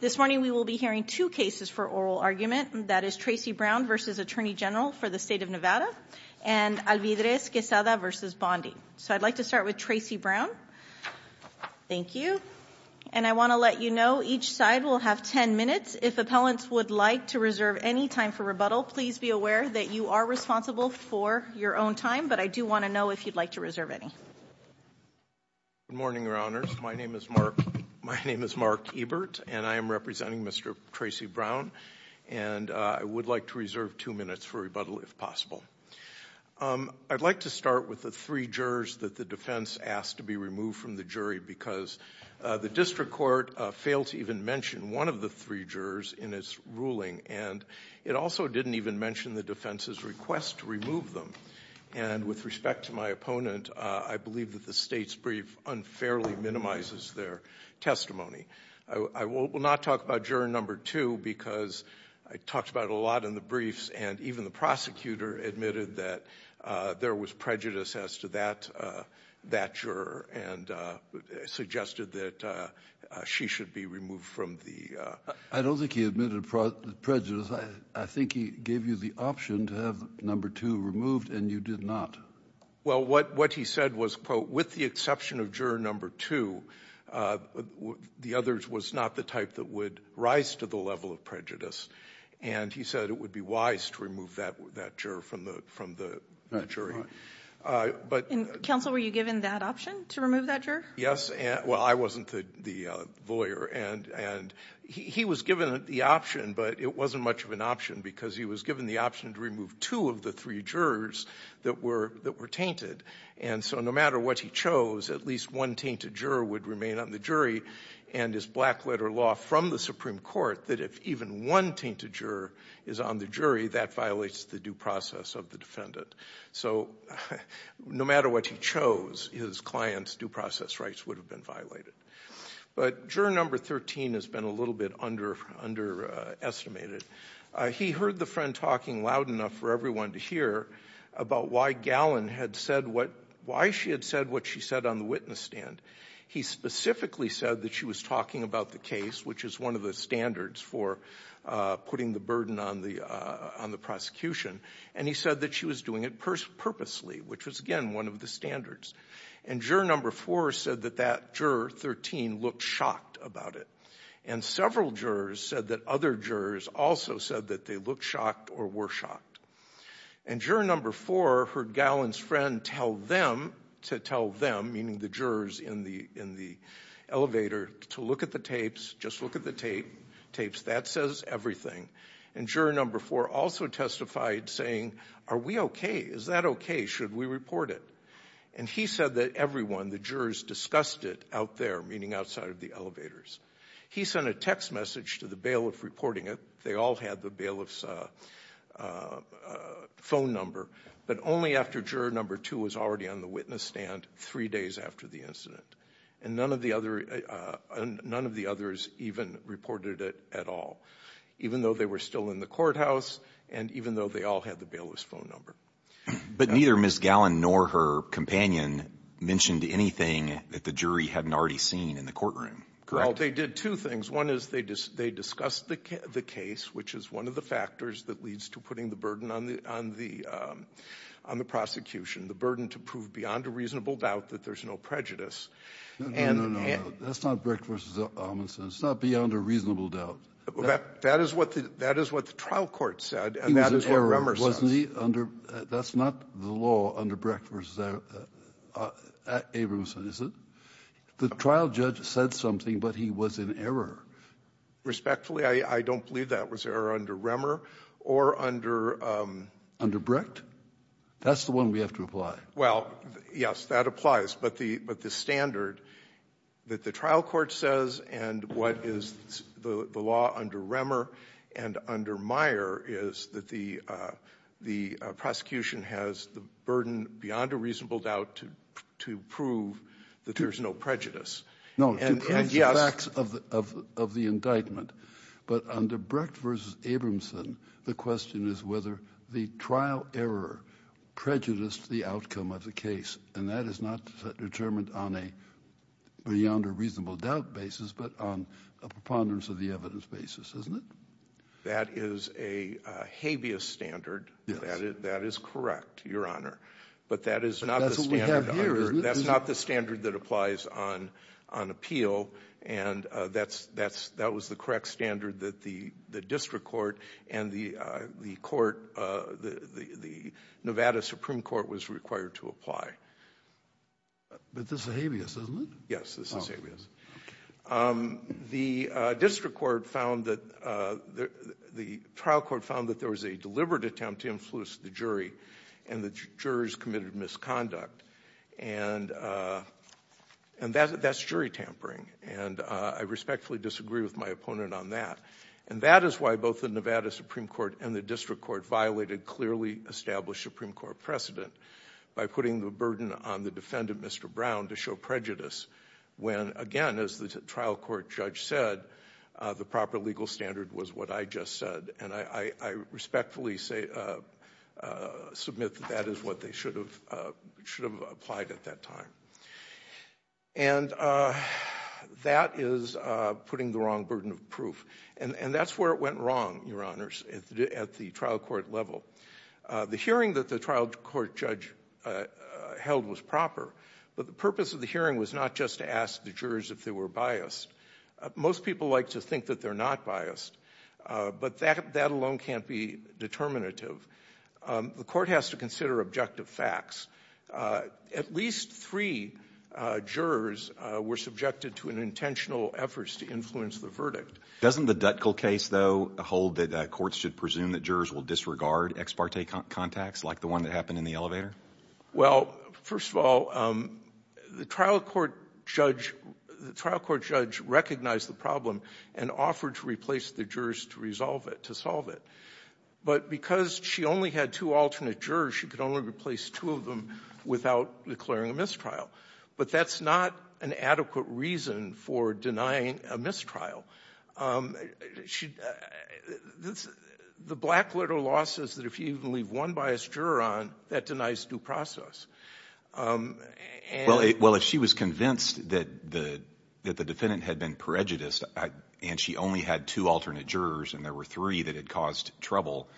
This morning we will be hearing two cases for oral argument, that is Tracey Brown v. Attorney General for the State of Nevada and Alvidrez-Quesada v. Bondi. So I'd like to start with Tracey Brown. Thank you. And I want to let you know each side will have 10 minutes. If appellants would like to reserve any time for rebuttal, please be aware that you are responsible for your own time, but I do want to know if you'd like to reserve any. Good morning, Your Honors. My name is Mark Ebert, and I am representing Mr. Tracey Brown, and I would like to reserve two minutes for rebuttal if possible. I'd like to start with the three jurors that the defense asked to be removed from the jury because the district court failed to even mention one of the three jurors in its ruling, and it also didn't even mention the defense's request to remove them. And with respect to my opponent, I believe that the State's brief unfairly minimizes their testimony. I will not talk about juror number two because I talked about it a lot in the briefs, and even the prosecutor admitted that there was prejudice as to that juror and suggested that she should be removed from the... I don't think he admitted prejudice. Because I think he gave you the option to have number two removed, and you did not. Well, what he said was, quote, with the exception of juror number two, the other was not the type that would rise to the level of prejudice. And he said it would be wise to remove that juror from the jury. And, counsel, were you given that option to remove that juror? Yes. Well, I wasn't the lawyer. And he was given the option, but it wasn't much of an option because he was given the option to remove two of the three jurors that were tainted. And so no matter what he chose, at least one tainted juror would remain on the jury, and his black letter law from the Supreme Court that if even one tainted juror is on the jury, that violates the due process of the defendant. So no matter what he chose, his client's due process rights would have been violated. But juror number 13 has been a little bit underestimated. He heard the friend talking loud enough for everyone to hear about why Gallen had said what... Why she had said what she said on the witness stand. He specifically said that she was talking about the case, which is one of the standards for putting the burden on the prosecution. And he said that she was doing it purposely, which was, again, one of the standards. And juror number four said that that juror 13 looked shocked about it. And several jurors said that other jurors also said that they looked shocked or were shocked. And juror number four heard Gallen's friend tell them to tell them, meaning the jurors in the elevator, to look at the tapes, just look at the tapes. That says everything. And juror number four also testified saying, are we okay? Is that okay? Should we report it? And he said that everyone, the jurors, discussed it out there, meaning outside of the elevators. He sent a text message to the bailiff reporting it. They all had the bailiff's phone number. But only after juror number two was already on the witness stand three days after the And none of the others even reported it at all. Even though they were still in the courthouse and even though they all had the bailiff's phone number. But neither Ms. Gallen nor her companion mentioned anything that the jury hadn't already seen in the courtroom. Correct? Well, they did two things. One is, they discussed the case, which is one of the factors that leads to putting the burden on the prosecution, the burden to prove beyond a reasonable doubt that there's no prejudice. No, no, no. That's not Brick v. Amundson. It's not beyond a reasonable doubt. That is what the trial court said, and that is what Remmer says. He was in error, wasn't he, under the law under Brick v. Abramson, is it? The trial judge said something, but he was in error. Respectfully, I don't believe that was error under Remmer or under the law. Under Brick? That's the one we have to apply. Well, yes, that applies. But the standard that the trial court says and what is the law under Remmer and under Meyer is that the prosecution has the burden beyond a reasonable doubt to prove that there's no prejudice. And yes — No, to prove the facts of the indictment. But under Brick v. Abramson, the question is whether the trial error prejudiced the outcome of the case. And that is not determined on a beyond a reasonable doubt basis, but on a preponderance of the evidence basis, isn't it? That is a habeas standard. Yes. That is correct, Your Honor. But that is not the standard — But that's what we have here, isn't it? That's not the standard that applies on appeal. And that was the correct standard that the district court and the court — the Nevada Supreme Court was required to apply. But this is a habeas, isn't it? Yes, this is habeas. The district court found that — the trial court found that there was a deliberate attempt to influence the jury, and the jurors committed misconduct. And that's jury tampering. And I respectfully disagree with my opponent on that. And that is why both the Nevada Supreme Court and the district court violated clearly established Supreme Court precedent by putting the burden on the defendant, Mr. Brown, to show prejudice when again, as the trial court judge said, the proper legal standard was what I just said. And I respectfully submit that that is what they should have applied at that time. And that is putting the wrong burden of proof. And that's where it went wrong, Your Honors, at the trial court level. The hearing that the trial court judge held was proper, but the purpose of the hearing was not just to ask the jurors if they were biased. Most people like to think that they're not biased, but that alone can't be determinative. The court has to consider objective facts. At least three jurors were subjected to intentional efforts to influence the verdict. Doesn't the Dutkill case, though, hold that courts should presume that jurors will disregard ex parte contacts like the one that happened in the elevator? Well, first of all, the trial court judge recognized the problem and offered to replace the jurors to resolve it, to solve it. But because she only had two alternate jurors, she could only replace two of them without declaring a mistrial. But that's not an adequate reason for denying a mistrial. The black letter law says that if you leave one biased juror on, that denies due process. Well, if she was convinced that the defendant had been prejudiced and she only had two alternate jurors and there were three that had caused trouble,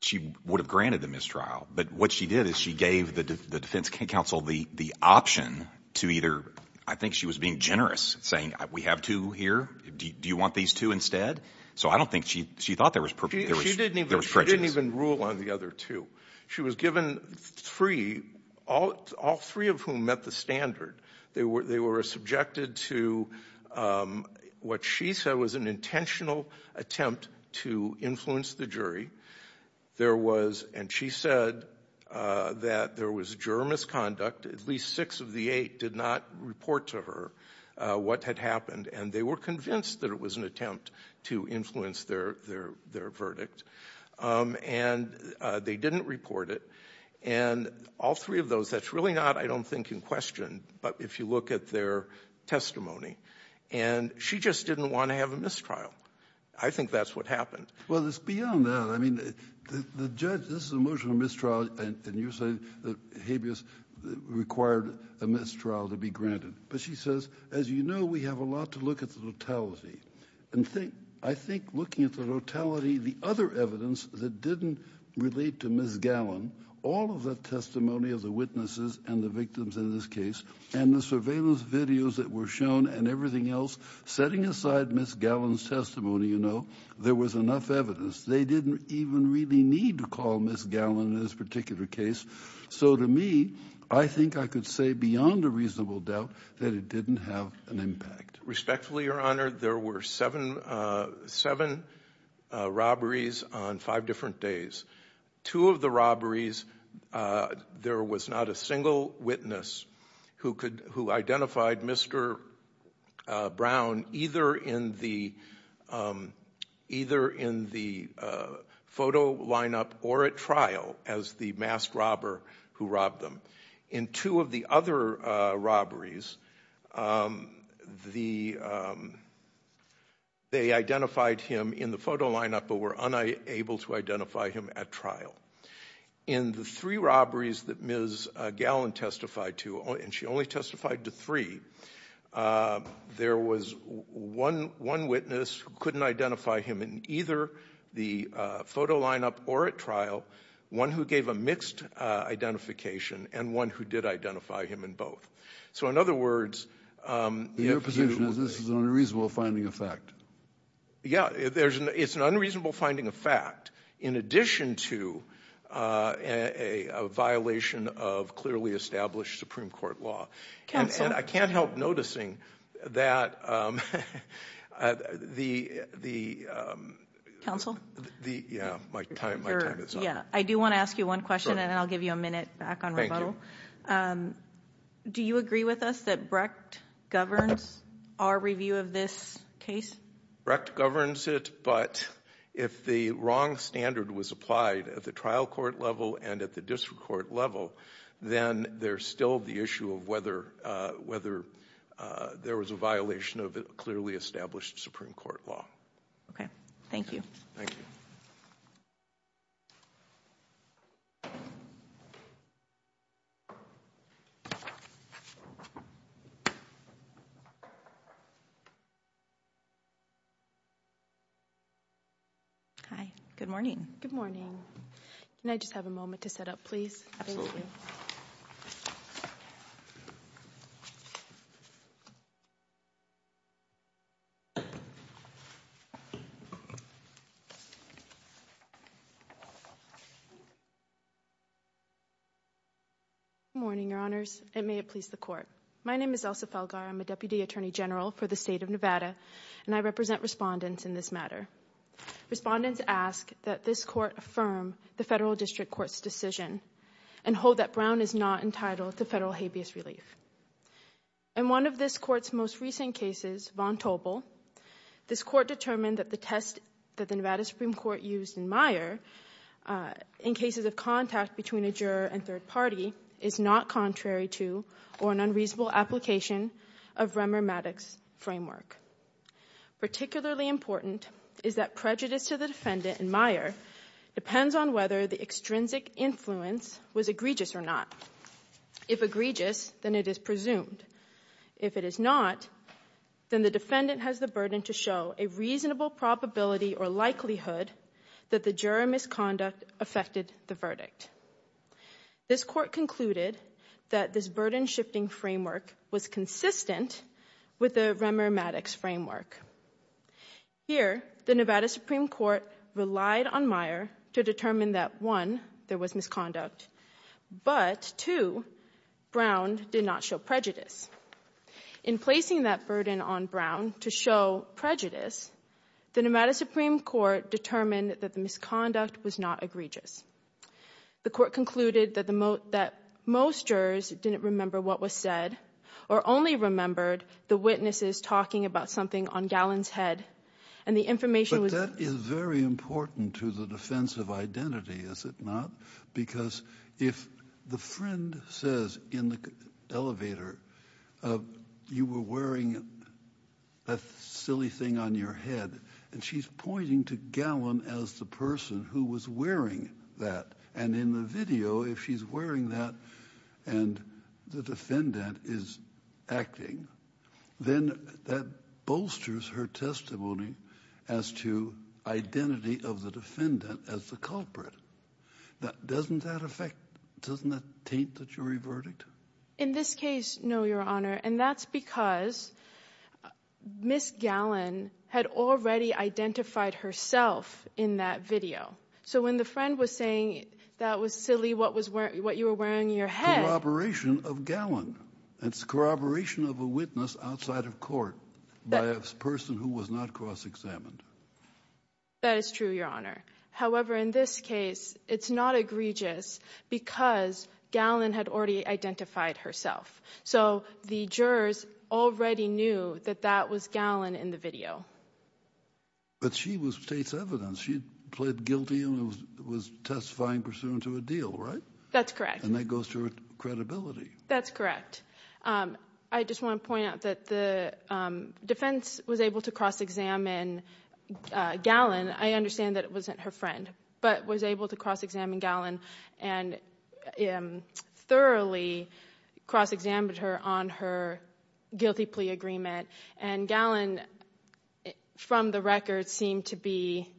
she would have granted the mistrial. But what she did is she gave the defense counsel the option to either – I think she was being generous, saying we have two here, do you want these two instead? So I don't think she thought there was prejudice. She didn't even rule on the other two. She was given three, all three of whom met the standard. They were subjected to what she said was an intentional attempt to influence the jury. There was – and she said that there was juror misconduct. At least six of the eight did not report to her what had happened. And they were convinced that it was an attempt to influence their verdict. And they didn't report it. And all three of those, that's really not, I don't think, in question, but if you look at their testimony. And she just didn't want to have a mistrial. I think that's what happened. Well, it's beyond that. I mean, the judge – this is an emotional mistrial, and you say that habeas required a mistrial to be granted. But she says, as you know, we have a lot to look at the totality. And I think looking at the totality, the other evidence that didn't relate to Ms. Gallin, all of the testimony of the witnesses and the victims in this case, and the surveillance videos that were shown and everything else, setting aside Ms. Gallin's testimony, you know, there was enough evidence. They didn't even really need to call Ms. Gallin in this particular case. So to me, I think I could say beyond a reasonable doubt that it didn't have an impact. Respectfully, Your Honor, there were seven robberies on five different days. Two of the robberies, there was not a single witness who identified Mr. Brown either in the photo lineup or at trial as the masked robber who robbed them. In two of the other robberies, they identified him in the photo lineup but were unable to identify him at trial. In the three robberies that Ms. Gallin testified to, and she only testified to three, there was one witness who couldn't identify him in either the photo lineup or at trial, one who gave a mixed identification, and one who did identify him in both. So in other words, it was a reasonable finding of fact. Yeah. It's an unreasonable finding of fact in addition to a violation of clearly established Supreme Court law. Counsel? And I can't help noticing that the... Counsel? Yeah, my time is up. I do want to ask you one question and then I'll give you a minute back on rebuttal. Do you agree with us that Brecht governs our review of this case? Brecht governs it, but if the wrong standard was applied at the trial court level and at the district court level, then there's still the issue of whether there was a violation of clearly established Supreme Court law. Okay. Thank you. Thank you. Hi. Good morning. Good morning. Can I just have a moment to set up, please? Thank you. Good morning, Your Honors, and may it please the Court. My name is Elsa Felgar. I'm a Deputy Attorney General for the State of Nevada, and I represent respondents in this matter. Respondents ask that this Court affirm the federal district court's decision and hold that Brown is not entitled to federal habeas relief. In one of this Court's most recent cases, Von Tobel, this Court determined that the test that the Nevada Supreme Court used in Meyer in cases of contact between a juror and third party is not contrary to or an unreasonable application of Remmer-Maddox framework. Particularly important is that prejudice to the defendant in Meyer depends on whether the extrinsic influence was egregious or not. If egregious, then it is presumed. If it is not, then the defendant has the burden to show a reasonable probability or likelihood that the juror misconduct affected the verdict. This Court concluded that this burden-shifting framework was consistent with the Remmer-Maddox framework. Here, the Nevada Supreme Court relied on Meyer to determine that, one, there was misconduct, but two, Brown did not show prejudice. In placing that burden on Brown to show prejudice, the Nevada Supreme Court determined that the The Court concluded that most jurors didn't remember what was said or only remembered the witnesses talking about something on Gallen's head. And the information was But that is very important to the defense of identity, is it not? Because if the friend says in the elevator, you were wearing a silly thing on your head, and she's pointing to Gallen as the person who was wearing that, and in the video, if she's wearing that and the defendant is acting, then that bolsters her testimony as to identity of the defendant as the culprit. Doesn't that affect, doesn't that taint the jury verdict? In this case, no, Your Honor, and that's because Ms. Gallen had already identified herself in that video. So when the friend was saying that was silly, what you were wearing on your head Corroboration of Gallen. That's corroboration of a witness outside of court by a person who was not cross-examined. That is true, Your Honor. However, in this case, it's not egregious because Gallen had already identified herself. So the jurors already knew that that was Gallen in the video. But she was state's evidence. She pled guilty and was testifying pursuant to a deal, right? That's correct. And that goes to her credibility. That's correct. I just want to point out that the defense was able to cross-examine Gallen. I understand that it wasn't her friend, but was able to cross-examine Gallen and thoroughly cross-examined her on her guilty plea agreement. And Gallen, from the record, seemed to be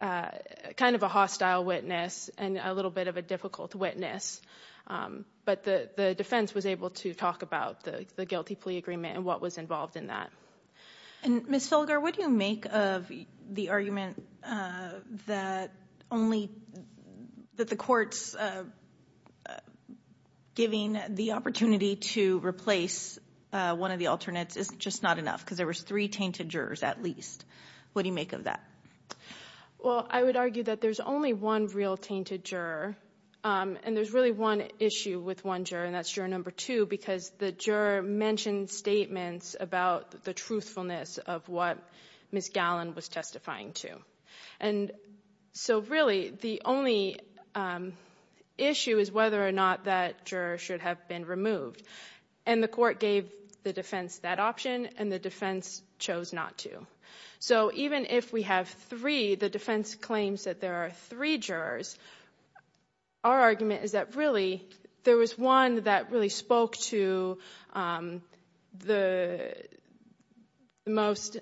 kind of a hostile witness and a little bit of a difficult witness. But the defense was able to talk about the guilty plea agreement and what was involved in that. And Ms. Filger, what do you make of the argument that the court's giving the opportunity to replace one of the alternates is just not enough, because there was three tainted jurors at least? What do you make of that? Well, I would argue that there's only one real tainted juror, and there's really one issue with one juror, and that's juror number two, because the juror mentioned statements about the truthfulness of what Ms. Gallen was testifying to. And so really, the only issue is whether or not that juror should have been removed. And the court gave the defense that option, and the defense chose not to. So even if we have three, the defense claims that there are three jurors, our argument is that really, there was one that really spoke to the most,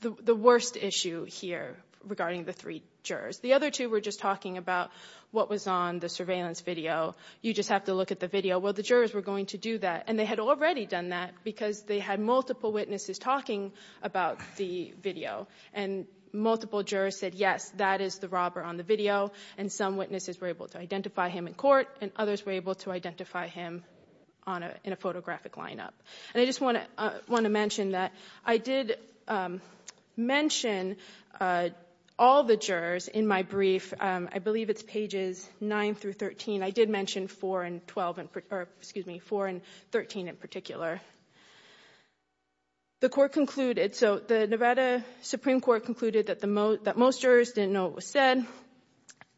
the worst issue here regarding the three jurors. The other two were just talking about what was on the surveillance video. You just have to look at the video. Well, the jurors were going to do that, and they had already done that because they had multiple witnesses talking about the video. And multiple jurors said, yes, that is the robber on the video, and some witnesses were able to identify him in court, and others were able to identify him in a photographic And I just want to mention that I did mention all the jurors in my brief. I believe it's pages 9 through 13. I did mention 4 and 12, or excuse me, 4 and 13 in particular. The court concluded, so the Nevada Supreme Court concluded that most jurors didn't know what was said,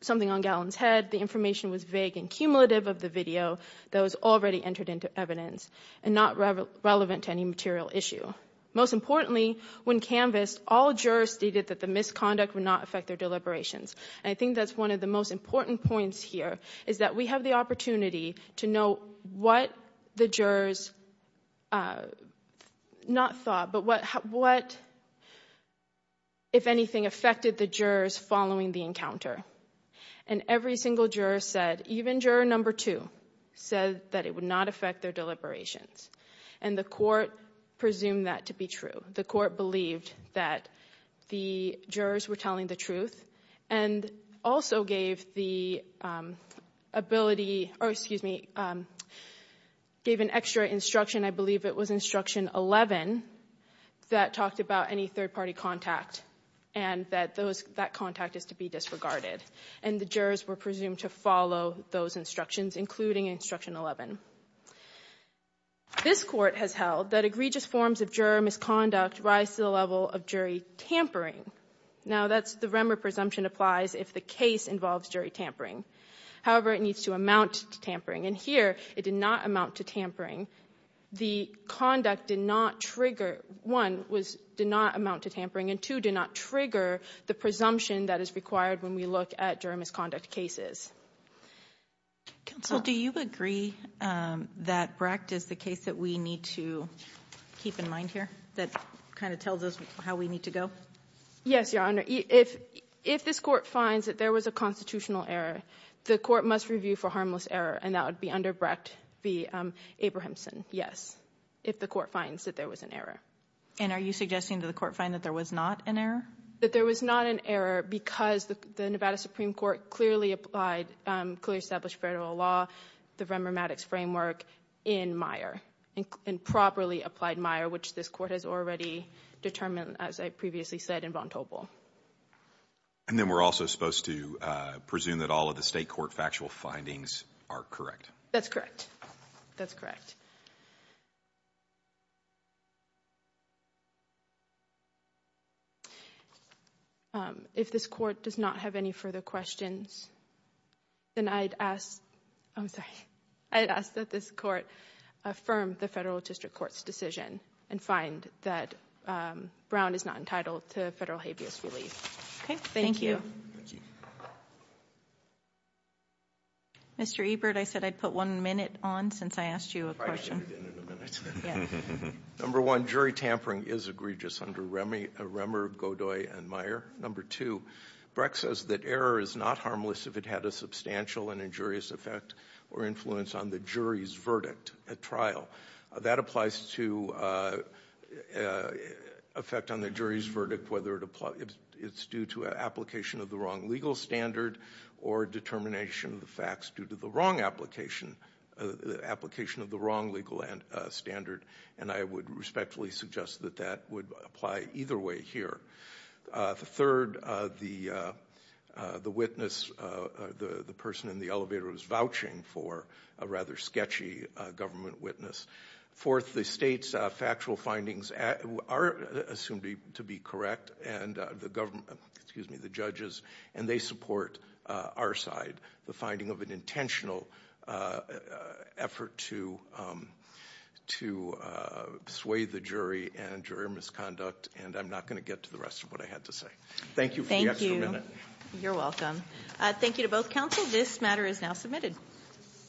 something on Gallin's head, the information was vague and cumulative of the video that was already entered into evidence, and not relevant to any material issue. Most importantly, when canvassed, all jurors stated that the misconduct would not affect their deliberations. And I think that's one of the most important points here, is that we have the opportunity to know what the jurors not thought, but what, if anything, affected the jurors following the encounter. And every single juror said, even juror number two said that it would not affect their deliberations. And the court presumed that to be true. The court believed that the jurors were telling the truth, and also gave the ability or, excuse me, gave an extra instruction, I believe it was Instruction 11, that talked about any third-party contact, and that those, that contact is to be disregarded. And the jurors were presumed to follow those instructions, including Instruction 11. This Court has held that egregious forms of juror misconduct rise to the level of jury tampering. Now, that's the Remer presumption applies if the case involves jury tampering. However, it needs to amount to tampering. And here, it did not amount to tampering. The conduct did not trigger, one, did not amount to tampering, and two, did not trigger the presumption that is required when we look at juror misconduct cases. Counsel, do you agree that Brecht is the case that we need to keep in mind here? That kind of tells us how we need to go? Yes, Your Honor. If this court finds that there was a constitutional error, the court must review for harmless error, and that would be under Brecht v. Abrahamson, yes, if the court finds that there was an error. And are you suggesting that the court find that there was not an error? That there was not an error because the Nevada Supreme Court clearly applied, clearly established federal law, the Remer Maddox framework in Meyer, and properly applied Meyer, which this court has already determined, as I previously said, in Vontobel. And then we're also supposed to presume that all of the state court factual findings are correct. That's correct. That's correct. If this court does not have any further questions, then I'd ask, I'm sorry, I'd ask that this court affirm the federal district court's decision and find that Brown is not entitled to federal habeas relief. Okay. Thank you. Thank you. Mr. Ebert, I said I'd put one minute on since I asked you a question. I figured in a minute. Yeah. Number one, jury tampering is egregious under Remer, Godoy, and Meyer. Number two, Brecht says that error is not harmless if it had a substantial and injurious effect or influence on the jury's verdict at trial. That applies to effect on the jury's verdict, whether it's due to application of the wrong legal standard or determination of the facts due to the wrong application, the application of the wrong legal standard, and I would respectfully suggest that that would apply either way here. Third, the witness, the person in the elevator was vouching for a rather sketchy government witness. Fourth, the state's factual findings are assumed to be correct, and the government, excuse me, the judges, and they support our side. The finding of an intentional effort to sway the jury and jury misconduct, and I'm not going to get to the rest of what I had to say. Thank you for the extra minute. You're welcome. Thank you to both counsel. This matter is now submitted.